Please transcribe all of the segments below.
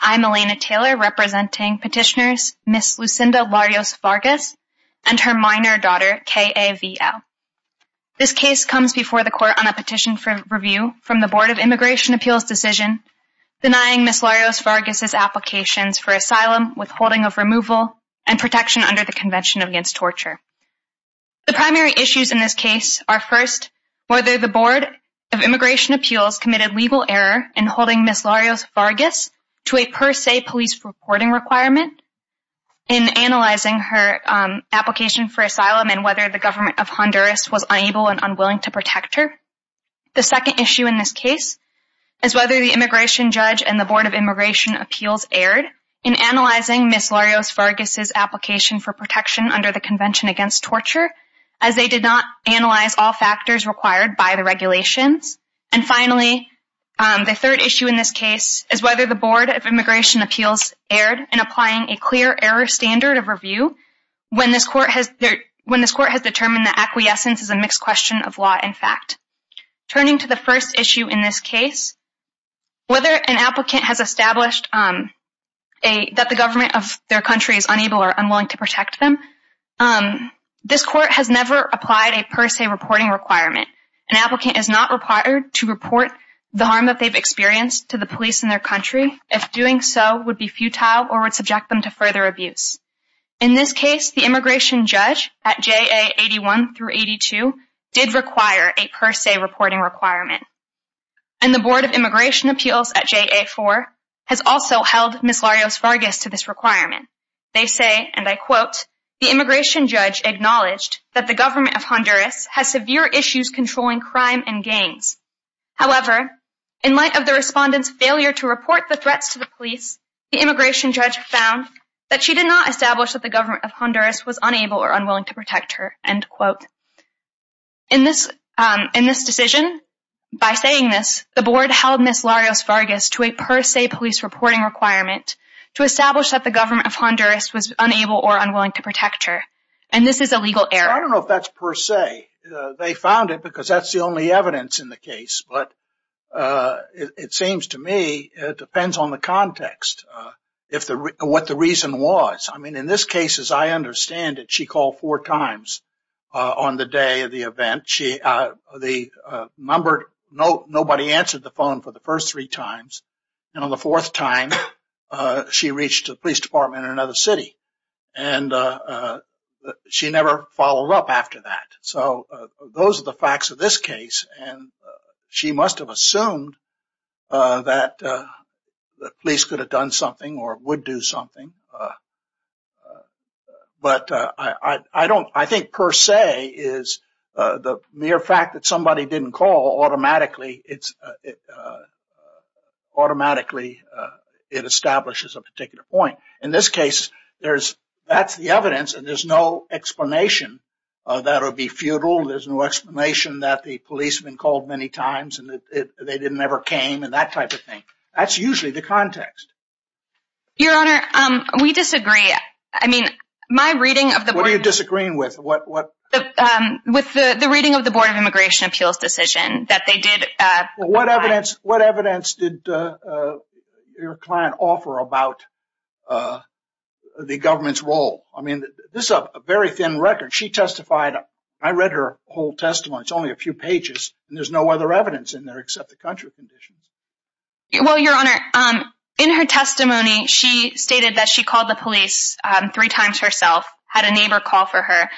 I'm Elena Taylor representing petitioners Ms. Lucinda Larios-Vargas and her minor daughter K.A.V.L. This case comes before the court on a petition for review from the Board of Immigration Appeals' decision denying Ms. Larios-Vargas' applications for asylum, withholding of removal, and protection under the Convention Against Torture. The primary issues in this case are first, whether the Board of Immigration Appeals committed legal error in holding Ms. Larios-Vargas to a per se police reporting requirement in analyzing her application for asylum and whether the government of Honduras was unable and unwilling to protect her. The second issue in this case is whether the immigration judge and the Board of Immigration Appeals erred in analyzing Ms. Larios-Vargas' application for protection under the Convention Against Torture as they did not analyze all factors required by the regulations. And finally, the third issue in this case is whether the Board of Immigration Appeals erred in applying a clear error standard of review when this court has determined that acquiescence is a mixed question of law and fact. Turning to the first issue in this case, whether an applicant has established that the government of their country is unable or unwilling to protect them, this court has never applied a per se reporting requirement. An applicant is not required to report the harm that they've experienced to the police in their country if doing so would be futile or would subject them to further abuse. In this case, the immigration judge at JA 81 through 82 did require a per se reporting requirement. And the Board of Immigration Appeals at JA 4 has also held Ms. Larios-Vargas to this requirement. They say, and I quote, In this case, the immigration judge acknowledged that the government of Honduras has severe issues controlling crime and gangs. However, in light of the respondent's failure to report the threats to the police, the immigration judge found that she did not establish that the government of Honduras was unable or unwilling to protect her, end quote. In this decision, by saying this, the board held Ms. Larios-Vargas to a per se police reporting requirement to establish that the government of Honduras was unable or unwilling to protect her. And this is a legal error. I don't know if that's per se. They found it because that's the only evidence in the case. But it seems to me it depends on the context, what the reason was. I mean, in this case, as I understand it, she called four times on the day of the event. Nobody answered the phone for the first three times. And on the fourth time, she reached the police department in another city. And she never followed up after that. So those are the facts of this case. And she must have assumed that the police could have done something or would do something. But I don't I think per se is the mere fact that somebody didn't call automatically. Automatically, it establishes a particular point. In this case, that's the evidence. And there's no explanation that it would be futile. There's no explanation that the policeman called many times and they never came and that type of thing. That's usually the context. Your Honor, we disagree. I mean, my reading of the board. What are you disagreeing with? With the reading of the Board of Immigration Appeals decision that they did. What evidence did your client offer about the government's role? I mean, this is a very thin record. She testified. I read her whole testimony. It's only a few pages. There's no other evidence in there except the country conditions. Well, Your Honor, in her testimony, she stated that she called the police three times herself, had a neighbor call for her,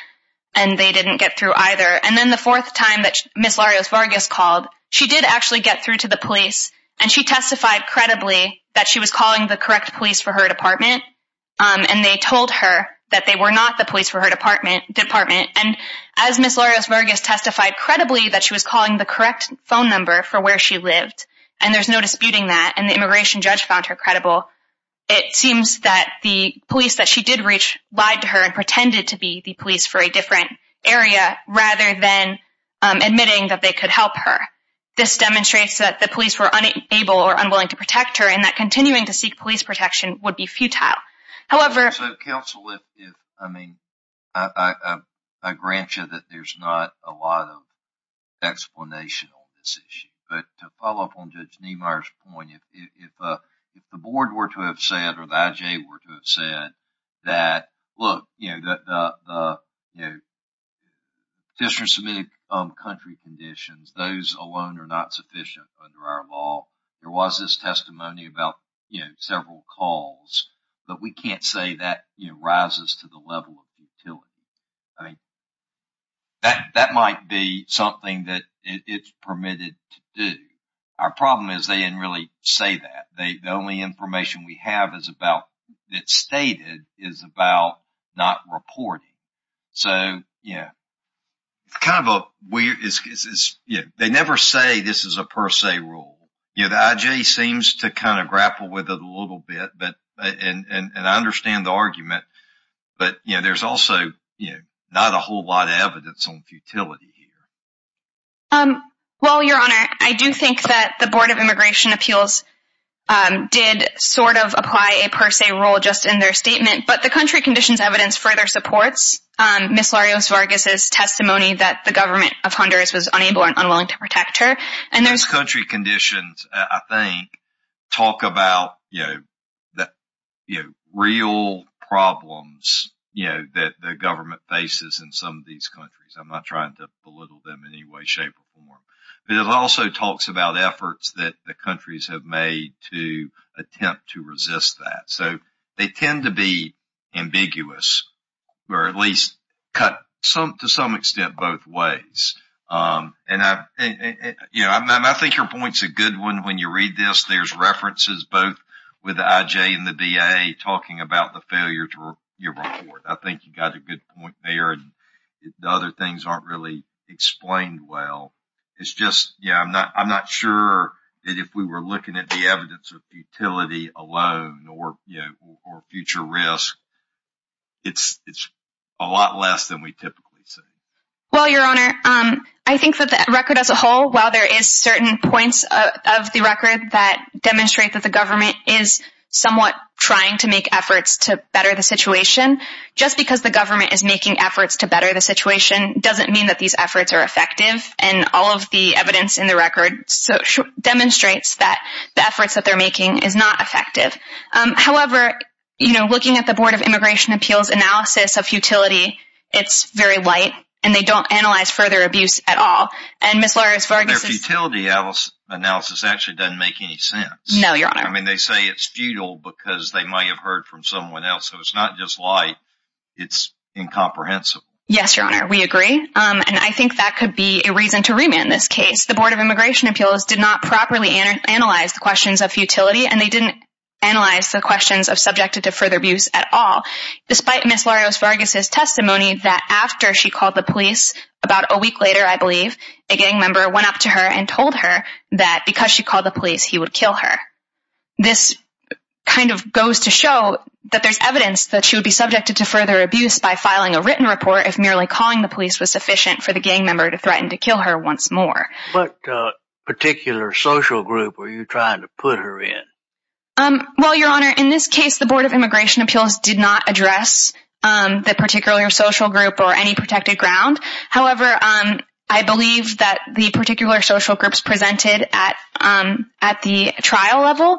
and they didn't get through either. And then the fourth time that Ms. Larios-Vargas called, she did actually get through to the police, and she testified credibly that she was calling the correct police for her department. And they told her that they were not the police for her department. And as Ms. Larios-Vargas testified credibly that she was calling the correct phone number for where she lived, and there's no disputing that, and the immigration judge found her credible, it seems that the police that she did reach lied to her and pretended to be the police for a different area rather than admitting that they could help her. This demonstrates that the police were unable or unwilling to protect her, and that continuing to seek police protection would be futile. So, counsel, I mean, I grant you that there's not a lot of explanation on this issue. But to follow up on Judge Niemeyer's point, if the board were to have said or the I.J. were to have said that, look, you know, the district submitted country conditions, those alone are not sufficient under our law. There was this testimony about, you know, several calls, but we can't say that, you know, rises to the level of futility. I mean, that might be something that it's permitted to do. Our problem is they didn't really say that. The only information we have is about it stated is about not reporting. So, yeah. It's kind of a weird. They never say this is a per se rule. The I.J. seems to kind of grapple with it a little bit. And I understand the argument. But, you know, there's also not a whole lot of evidence on futility here. Well, Your Honor, I do think that the Board of Immigration Appeals did sort of apply a per se rule just in their statement. But the country conditions evidence further supports Ms. Larios-Vargas' testimony that the government of Honduras was unable and unwilling to protect her. And those country conditions, I think, talk about, you know, the real problems, you know, that the government faces in some of these countries. I'm not trying to belittle them in any way, shape or form. But it also talks about efforts that the countries have made to attempt to resist that. So they tend to be ambiguous or at least cut to some extent both ways. And, you know, I think your point's a good one. When you read this, there's references both with the I.J. and the B.A. talking about the failure to report. I think you got a good point there. The other things aren't really explained well. It's just, you know, I'm not sure that if we were looking at the evidence of futility alone or future risk, it's a lot less than we typically see. Well, Your Honor, I think that the record as a whole, while there is certain points of the record that demonstrate that the government is somewhat trying to make efforts to better the situation, just because the government is making efforts to better the situation doesn't mean that these efforts are effective. And all of the evidence in the record demonstrates that the efforts that they're making is not effective. However, you know, looking at the Board of Immigration Appeals analysis of futility, it's very light, and they don't analyze further abuse at all. And Ms. Laris-Vargas is— Their futility analysis actually doesn't make any sense. No, Your Honor. I mean, they say it's futile because they might have heard from someone else. So it's not just light. It's incomprehensible. Yes, Your Honor, we agree. And I think that could be a reason to remand this case. The Board of Immigration Appeals did not properly analyze the questions of futility, and they didn't analyze the questions of subjected to further abuse at all. Despite Ms. Laris-Vargas' testimony that after she called the police, about a week later, I believe, a gang member went up to her and told her that because she called the police, he would kill her. This kind of goes to show that there's evidence that she would be subjected to further abuse by filing a written report if merely calling the police was sufficient for the gang member to threaten to kill her once more. What particular social group were you trying to put her in? Well, Your Honor, in this case, the Board of Immigration Appeals did not address the particular social group or any protected ground. However, I believe that the particular social groups presented at the trial level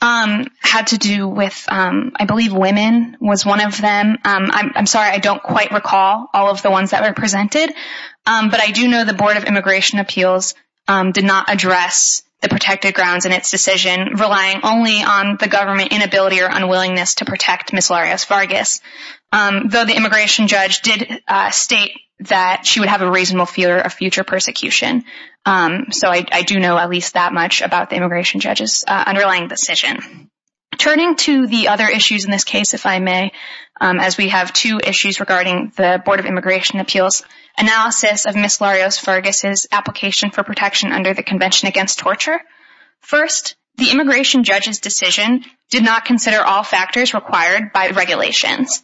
had to do with, I believe, women was one of them. I'm sorry, I don't quite recall all of the ones that were presented. But I do know the Board of Immigration Appeals did not address the protected grounds in its decision, relying only on the government inability or unwillingness to protect Ms. Laris-Vargas. Though the immigration judge did state that she would have a reasonable fear of future persecution. So I do know at least that much about the immigration judge's underlying decision. Turning to the other issues in this case, if I may, as we have two issues regarding the Board of Immigration Appeals analysis of Ms. Laris-Vargas' application for protection under the Convention Against Torture. First, the immigration judge's decision did not consider all factors required by regulations.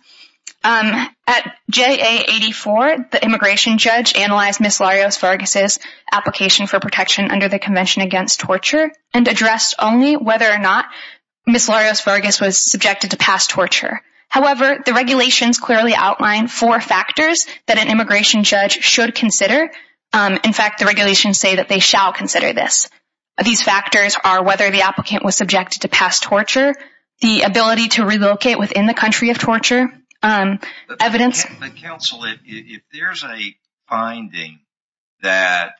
At JA-84, the immigration judge analyzed Ms. Laris-Vargas' application for protection under the Convention Against Torture and addressed only whether or not Ms. Laris-Vargas was subjected to past torture. However, the regulations clearly outlined four factors that an immigration judge should consider. In fact, the regulations say that they shall consider this. These factors are whether the applicant was subjected to past torture, the ability to relocate within the country of torture, evidence... Counsel, if there's a finding that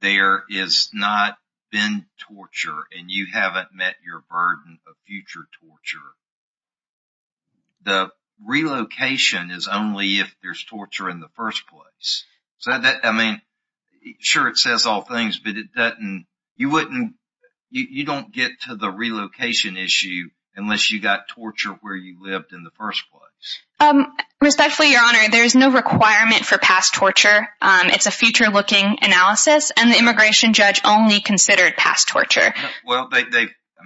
there has not been torture and you haven't met your burden of future torture, the relocation is only if there's torture in the first place. Sure, it says all things, but you don't get to the relocation issue unless you got torture where you lived in the first place. Respectfully, Your Honor, there is no requirement for past torture. It's a future-looking analysis, and the immigration judge only considered past torture. Well, I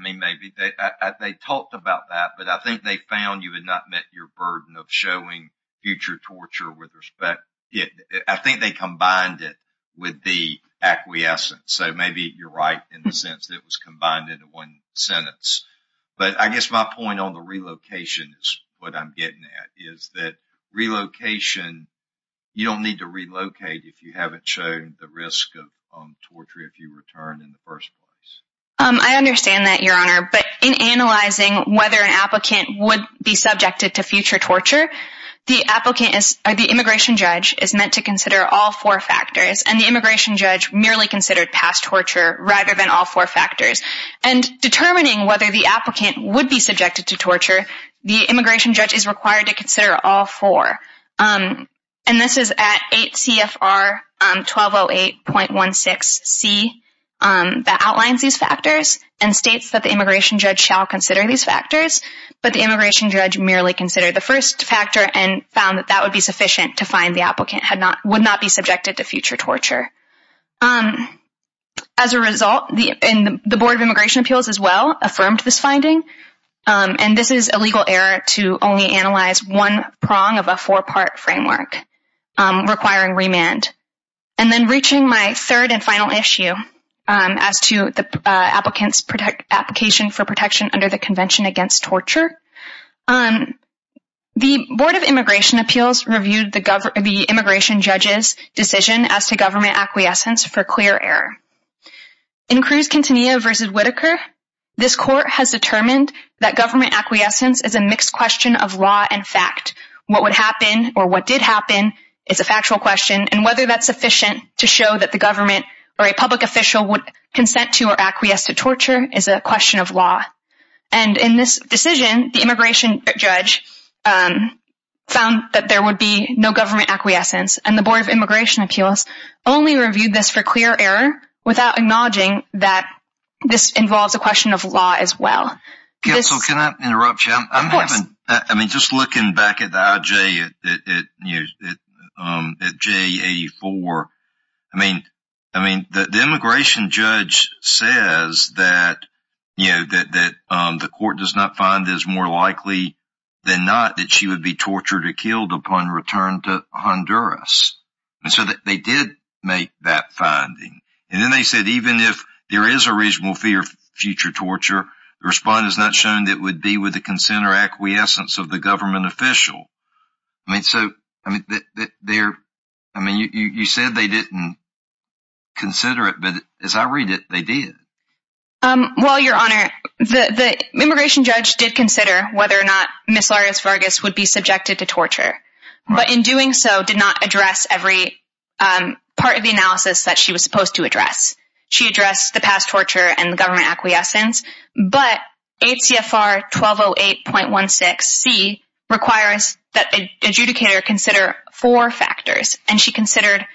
mean, maybe they talked about that, but I think they found you had not met your burden of showing future torture with respect. I think they combined it with the acquiescence, so maybe you're right in the sense that it was combined into one sentence. But I guess my point on the relocation is what I'm getting at, is that you don't need to relocate if you haven't shown the risk of torture if you returned in the first place. I understand that, Your Honor, but in analyzing whether an applicant would be subjected to future torture, the immigration judge is meant to consider all four factors, and the immigration judge merely considered past torture rather than all four factors. And determining whether the applicant would be subjected to torture, the immigration judge is required to consider all four. And this is at 8 CFR 1208.16c that outlines these factors and states that the immigration judge shall consider these factors, but the immigration judge merely considered the first factor and found that that would be sufficient to find the applicant would not be subjected to future torture. As a result, the Board of Immigration Appeals as well affirmed this finding, and this is a legal error to only analyze one prong of a four-part framework requiring remand. And then reaching my third and final issue as to the applicant's application for protection under the Convention Against Torture, the Board of Immigration Appeals reviewed the immigration judge's decision as to government acquiescence for clear error. In Cruz-Quintanilla v. Whitaker, this court has determined that government acquiescence is a mixed question of law and fact. What would happen or what did happen is a factual question, and whether that's sufficient to show that the government or a public official would consent to or acquiesce to torture is a question of law. And in this decision, the immigration judge found that there would be no government acquiescence, and the Board of Immigration Appeals only reviewed this for clear error without acknowledging that this involves a question of law as well. Can I interrupt you? Of course. Just looking back at the IJ at J84, the immigration judge says that the court does not find that it's more likely than not that she would be tortured or killed upon return to Honduras. And so they did make that finding. And then they said even if there is a reasonable fear of future torture, the response has not shown that it would be with the consent or acquiescence of the government official. I mean, you said they didn't consider it, but as I read it, they did. Well, Your Honor, the immigration judge did consider whether or not Ms. Laris-Vargas would be subjected to torture, but in doing so did not address every part of the analysis that she was supposed to address. She addressed the past torture and the government acquiescence. But ACFR 1208.16C requires that an adjudicator consider four factors, and she considered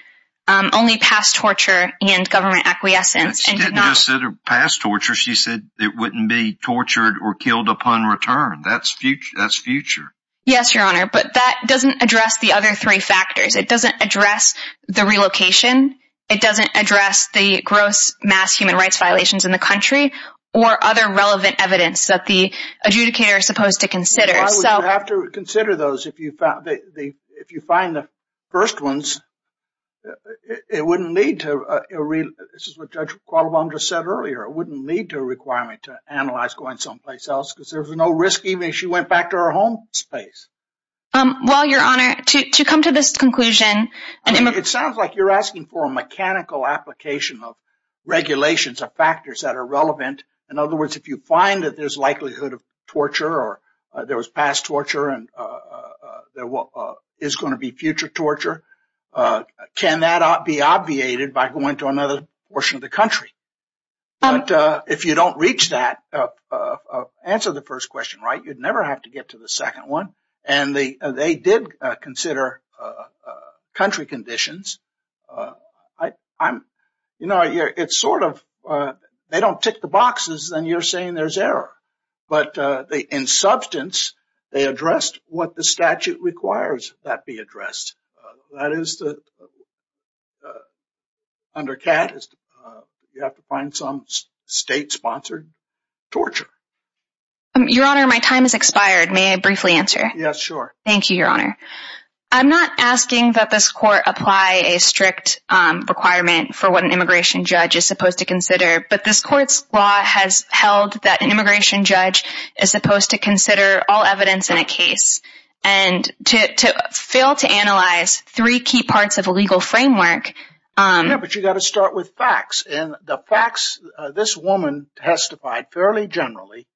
only past torture and government acquiescence. She didn't just say past torture. She said it wouldn't be tortured or killed upon return. That's future. Yes, Your Honor, but that doesn't address the other three factors. It doesn't address the relocation. It doesn't address the gross mass human rights violations in the country or other relevant evidence that the adjudicator is supposed to consider. Well, why would you have to consider those if you find the first ones? It wouldn't lead to a—this is what Judge Qualabong just said earlier— it wouldn't lead to a requirement to analyze going someplace else because there's no risk even if she went back to her home space. Well, Your Honor, to come to this conclusion— I mean, it sounds like you're asking for a mechanical application of regulations or factors that are relevant. In other words, if you find that there's likelihood of torture or there was past torture and there is going to be future torture, can that be obviated by going to another portion of the country? But if you don't reach that, answer the first question right, you'd never have to get to the second one. And they did consider country conditions. You know, it's sort of—they don't tick the boxes and you're saying there's error. But in substance, they addressed what the statute requires that be addressed. That is, under CAT, you have to find some state-sponsored torture. Your Honor, my time has expired. May I briefly answer? Yes, sure. Thank you, Your Honor. I'm not asking that this court apply a strict requirement for what an immigration judge is supposed to consider, but this court's law has held that an immigration judge is supposed to consider all evidence in a case and to fail to analyze three key parts of a legal framework— Yeah, but you've got to start with facts. And the facts—this woman testified fairly generally.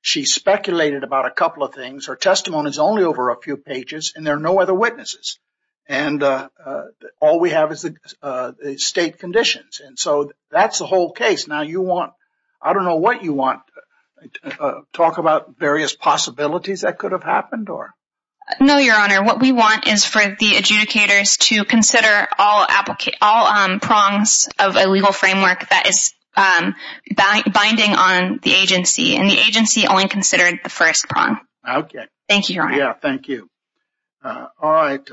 She speculated about a couple of things. Her testimony is only over a few pages and there are no other witnesses. And all we have is the state conditions. And so that's the whole case. Now you want—I don't know what you want. Talk about various possibilities that could have happened or— No, Your Honor. What we want is for the adjudicators to consider all prongs of a legal framework that is binding on the agency. And the agency only considered the first prong. Okay. Thank you, Your Honor. Yeah, thank you. All right.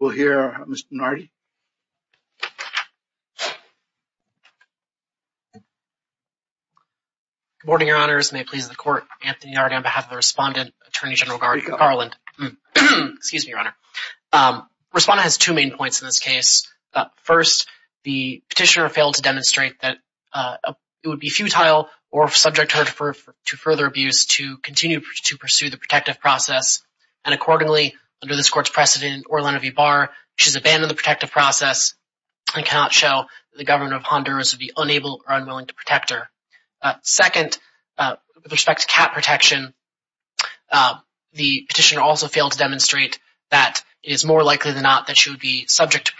We'll hear Mr. Nardi. Good morning, Your Honors. May it please the Court, Anthony Nardi on behalf of the respondent, Attorney General Garland. Excuse me, Your Honor. Respondent has two main points in this case. First, the petitioner failed to demonstrate that it would be futile or subject her to further abuse to continue to pursue the protective process. And accordingly, under this Court's precedent, Orlando V. Barr, she's abandoned the protective process and cannot show that the government of Honduras would be unable or unwilling to protect her. Second, with respect to cat protection, the petitioner also failed to demonstrate that it is more likely than not that she would be subject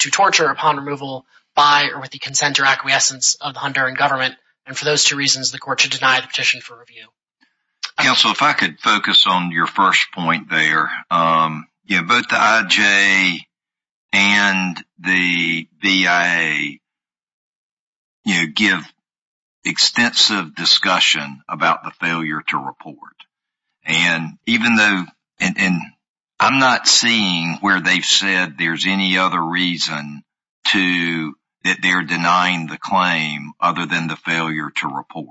to torture upon removal by or with the consent or acquiescence of the Honduran government. And for those two reasons, the Court should deny the petition for review. Counsel, if I could focus on your first point there. Both the IJA and the BIA give extensive discussion about the failure to report. And I'm not seeing where they've said there's any other reason that they're denying the claim other than the failure to report.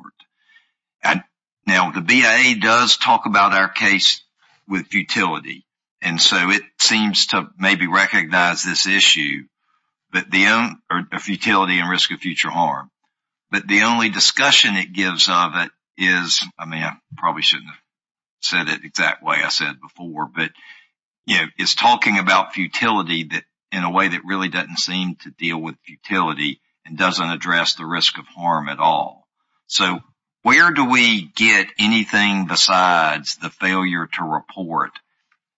Now, the BIA does talk about our case with futility. And so it seems to maybe recognize this issue of futility and risk of future harm. But the only discussion it gives of it is, I mean, I probably shouldn't have said it the exact way I said it before, but it's talking about futility in a way that really doesn't seem to deal with futility and doesn't address the risk of harm at all. So where do we get anything besides the failure to report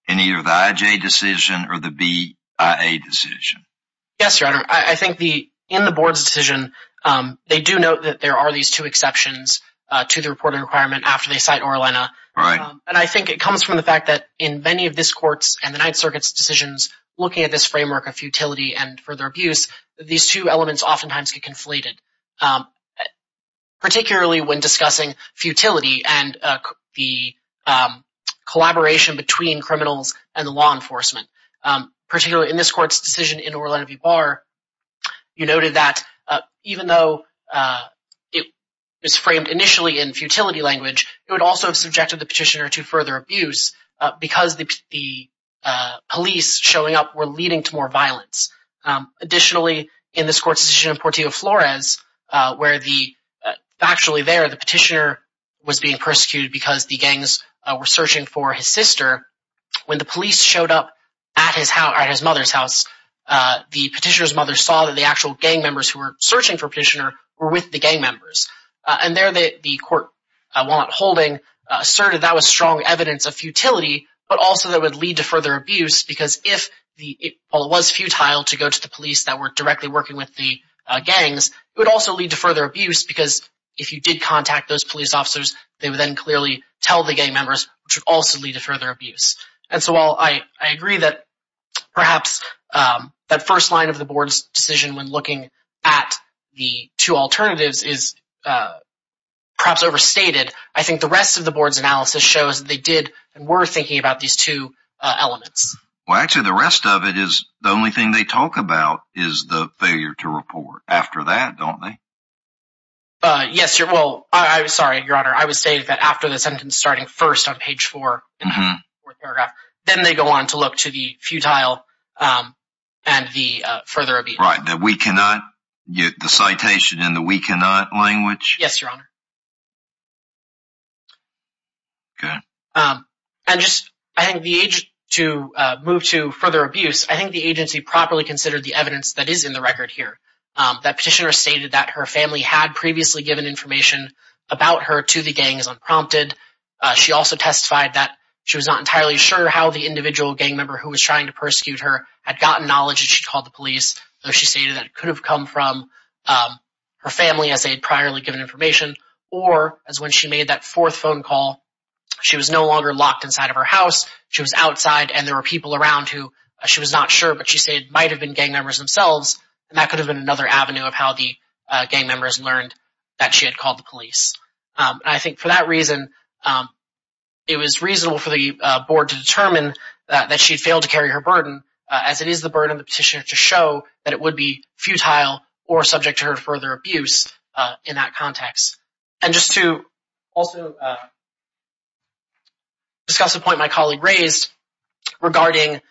in either the IJA decision or the BIA decision? Yes, Your Honor. I think in the Board's decision, they do note that there are these two exceptions to the reporting requirement after they cite Orellana. Right. And I think it comes from the fact that in many of this Court's and the Ninth Circuit's decisions looking at this framework of futility and further abuse, these two elements oftentimes get conflated. Particularly when discussing futility and the collaboration between criminals and the law enforcement. Particularly in this Court's decision in Orellana v. Barr, you noted that even though it was framed initially in futility language, it would also have subjected the petitioner to further abuse because the police showing up were leading to more violence. Additionally, in this Court's decision in Portillo Flores, where actually there the petitioner was being persecuted because the gangs were searching for his sister, when the police showed up at his mother's house, the petitioner's mother saw that the actual gang members who were searching for the petitioner were with the gang members. And there the Court, while not holding, asserted that was strong evidence of futility, but also that would lead to further abuse because while it was futile to go to the police that were directly working with the gangs, it would also lead to further abuse because if you did contact those police officers, they would then clearly tell the gang members, which would also lead to further abuse. And so while I agree that perhaps that first line of the Board's decision when looking at the two alternatives is perhaps overstated, I think the rest of the Board's analysis shows that they did and were thinking about these two elements. Well, actually, the rest of it is the only thing they talk about is the failure to report. After that, don't they? Yes. Well, I'm sorry, Your Honor. I would say that after the sentence starting first on page 4 in the fourth paragraph, then they go on to look to the futile and the further abuse. Right. The we cannot, the citation in the we cannot language? Yes, Your Honor. Good. And just I think the age to move to further abuse, I think the agency properly considered the evidence that is in the record here, that petitioner stated that her family had previously given information about her to the gang as unprompted. She also testified that she was not entirely sure how the individual gang member who was trying to persecute her had gotten knowledge that she called the police. She stated that it could have come from her family as they had priorly given information. Or as when she made that fourth phone call, she was no longer locked inside of her house. She was outside and there were people around who she was not sure, but she said it might have been gang members themselves. And that could have been another avenue of how the gang members learned that she had called the police. And I think for that reason, it was reasonable for the board to determine that she failed to carry her burden, as it is the burden of the petitioner to show that it would be futile or subject to her further abuse in that context. And just to also discuss a point my colleague raised regarding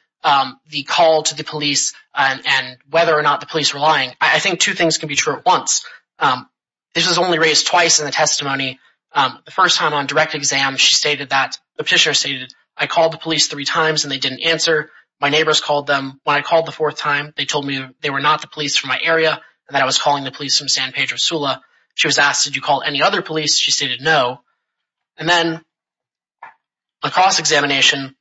the call to the police and whether or not the police were lying, I think two things can be true at once. This was only raised twice in the testimony. The first time on direct exam, the petitioner stated, I called the police three times and they didn't answer. My neighbors called them. When I called the fourth time, they told me they were not the police from my area and that I was calling the police from San Pedro Sula. She was asked, did you call any other police? She stated no. And then the cross-examination,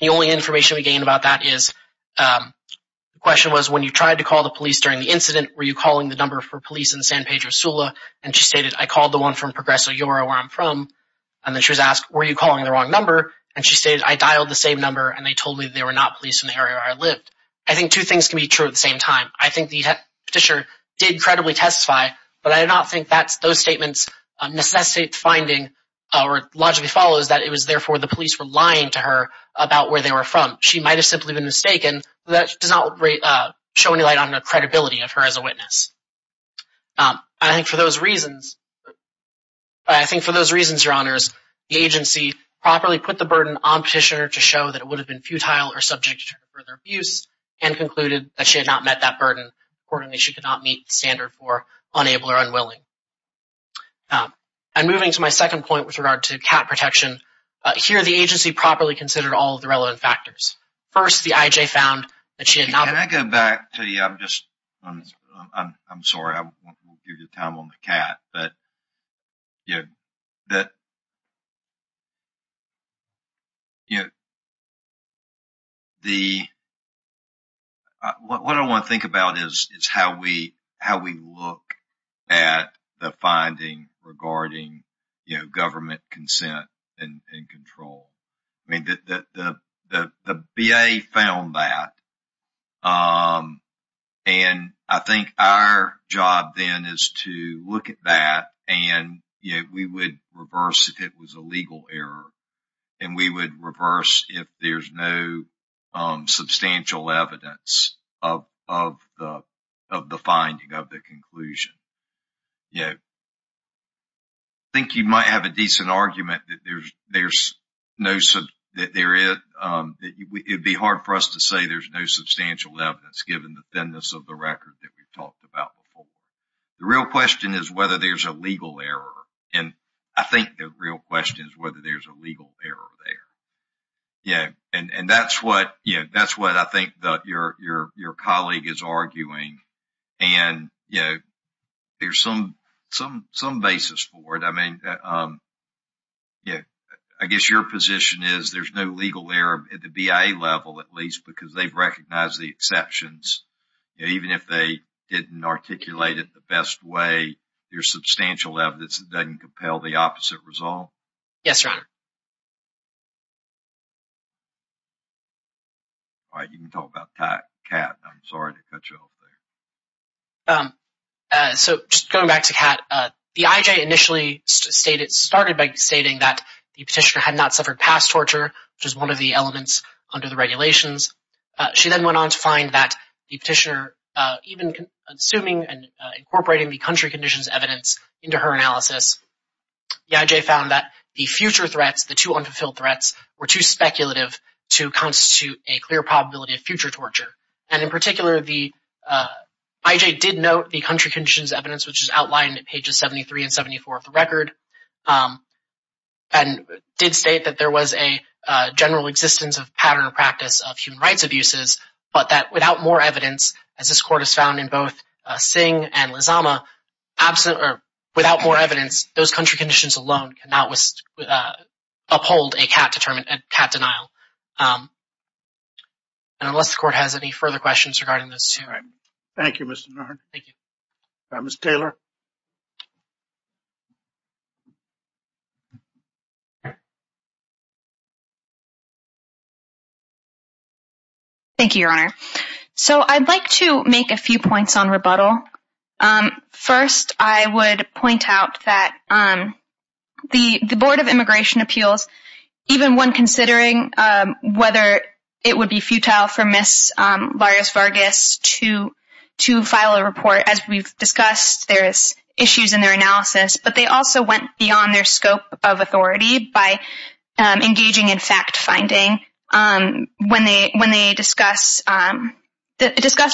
the only information we gained about that is the question was, when you tried to call the police during the incident, were you calling the number for police in San Pedro Sula? And she stated, I called the one from Progreso Yoro, where I'm from. And then she was asked, were you calling the wrong number? And she stated, I dialed the same number and they told me they were not police in the area where I lived. I think two things can be true at the same time. I think the petitioner did credibly testify, but I do not think those statements necessitate the finding or logically follows that it was therefore the police were lying to her about where they were from. She might have simply been mistaken, but that does not show any light on the credibility of her as a witness. I think for those reasons, Your Honors, the agency properly put the burden on the petitioner to show that it would have been futile or subject to further abuse and concluded that she had not met that burden. Importantly, she could not meet the standard for unable or unwilling. And moving to my second point with regard to cat protection, here the agency properly considered all of the relevant factors. First, the IJ found that she had not been- What I want to think about is how we look at the finding regarding government consent and control. The BA found that, and I think our job then is to look at that and we would reverse if it was a legal error. And we would reverse if there's no substantial evidence of the finding, of the conclusion. I think you might have a decent argument that there's no- It would be hard for us to say there's no substantial evidence given the thinness of the record that we've talked about before. The real question is whether there's a legal error. And I think the real question is whether there's a legal error there. And that's what I think your colleague is arguing. And there's some basis for it. I mean, I guess your position is there's no legal error at the BA level at least because they've recognized the exceptions. Even if they didn't articulate it the best way, there's substantial evidence that doesn't compel the opposite result? Yes, Your Honor. All right, you can talk about Kat. I'm sorry to cut you off there. So just going back to Kat, the IJ initially started by stating that the petitioner had not suffered past torture, which is one of the elements under the regulations. She then went on to find that the petitioner, even assuming and incorporating the country conditions evidence into her analysis, the IJ found that the future threats, the two unfulfilled threats, were too speculative to constitute a clear probability of future torture. And in particular, the IJ did note the country conditions evidence, which is outlined at pages 73 and 74 of the record, and did state that there was a general existence of pattern or practice of human rights abuses, but that without more evidence, as this court has found in both Singh and Lizama, without more evidence, those country conditions alone cannot uphold a Kat denial. And unless the court has any further questions regarding those two. Thank you, Mr. Norton. Ms. Taylor? Thank you, Your Honor. So I'd like to make a few points on rebuttal. First, I would point out that the Board of Immigration Appeals, even when considering whether it would be futile for Ms. Vargas to file a report, as we've discussed, there is issues in their analysis, but they also went beyond their scope of authority by engaging in fact-finding when they discussed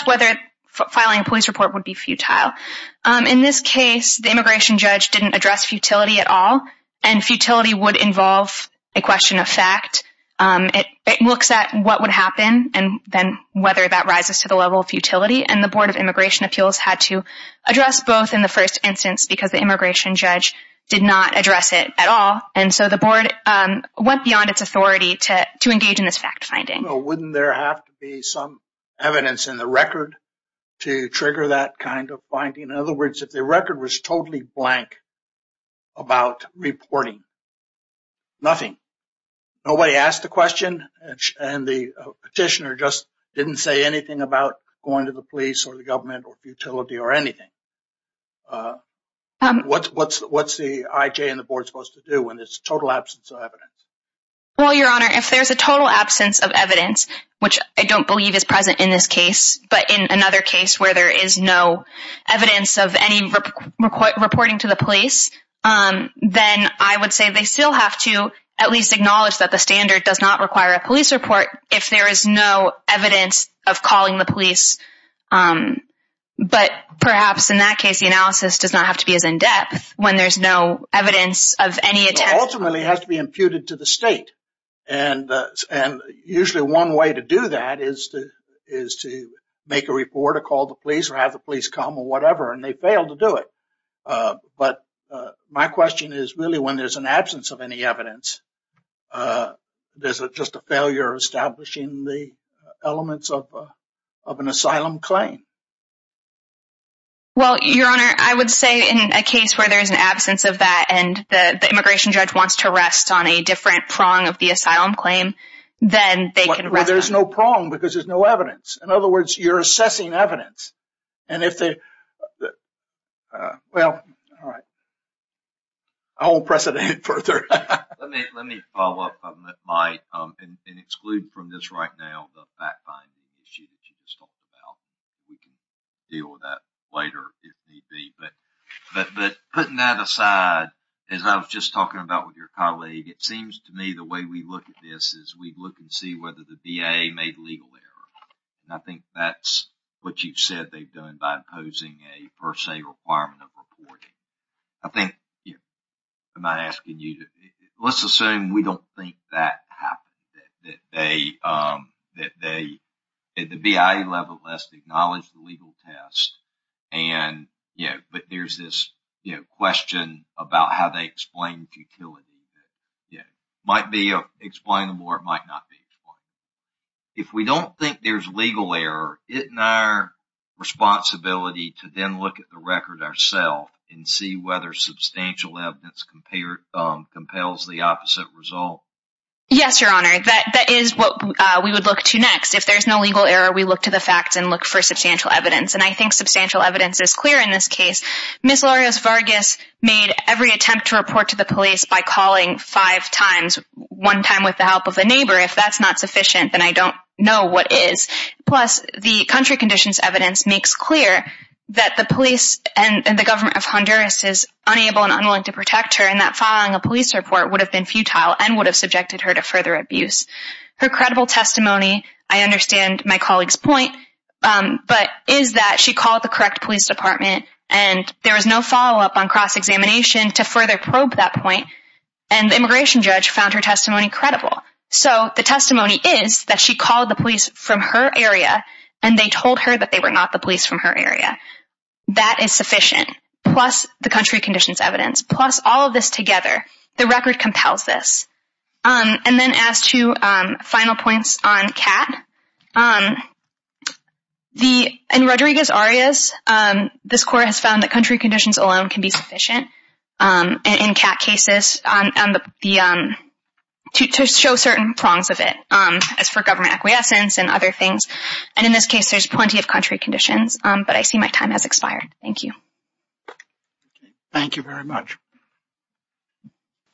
whether filing a police report would be futile. In this case, the immigration judge didn't address futility at all, and futility would involve a question of fact. It looks at what would happen and then whether that rises to the level of futility, and the Board of Immigration Appeals had to address both in the first instance because the immigration judge did not address it at all, and so the Board went beyond its authority to engage in this fact-finding. Wouldn't there have to be some evidence in the record to trigger that kind of finding? In other words, if the record was totally blank about reporting, nothing. Nobody asked the question, and the petitioner just didn't say anything about going to the police or the government or futility or anything. What's the IJ and the Board supposed to do when there's a total absence of evidence? Well, Your Honor, if there's a total absence of evidence, which I don't believe is present in this case, but in another case where there is no evidence of any reporting to the police, then I would say they still have to at least acknowledge that the standard does not require a police report if there is no evidence of calling the police. But perhaps in that case, the analysis does not have to be as in-depth when there's no evidence of any attempt. Ultimately, it has to be imputed to the state, and usually one way to do that is to make a report or call the police or have the police come or whatever, and they fail to do it. But my question is, really, when there's an absence of any evidence, is it just a failure establishing the elements of an asylum claim? Well, Your Honor, I would say in a case where there's an absence of that and the immigration judge wants to rest on a different prong of the asylum claim, then they can rest on that. Well, there's no prong because there's no evidence. In other words, you're assessing evidence. And if they... Well, all right. I won't press it any further. Let me follow up, Mike, and exclude from this right now the fact-finding issue that you just talked about. We can deal with that later if need be. But putting that aside, as I was just talking about with your colleague, it seems to me the way we look at this is we look and see whether the DA made legal error. And I think that's what you've said. They've done it by imposing a per se requirement of reporting. I think... I'm not asking you to... Let's assume we don't think that happened. That they... At the BIA level, let's acknowledge the legal test. And, you know, but there's this question about how they explain futility. It might be explainable or it might not be explainable. If we don't think there's legal error, isn't our responsibility to then look at the record ourselves and see whether substantial evidence compels the opposite result? Yes, Your Honor. That is what we would look to next. If there's no legal error, we look to the facts and look for substantial evidence. And I think substantial evidence is clear in this case. Ms. Lourios-Vargas made every attempt to report to the police by calling five times, one time with the help of a neighbor. If that's not sufficient, then I don't know what is. Plus, the country conditions evidence makes clear that the police and the government of Honduras is unable and unwilling to protect her and that filing a police report would have been futile and would have subjected her to further abuse. Her credible testimony, I understand my colleague's point, but is that she called the correct police department and there was no follow-up on cross-examination to further probe that point. And the immigration judge found her testimony credible. So the testimony is that she called the police from her area and they told her that they were not the police from her area. That is sufficient, plus the country conditions evidence, plus all of this together. The record compels this. And then as to final points on CAT, in Rodriguez-Arias, this court has found that country conditions alone can be sufficient. In CAT cases, to show certain prongs of it, as for government acquiescence and other things. And in this case, there's plenty of country conditions, but I see my time has expired. Thank you. Thank you very much.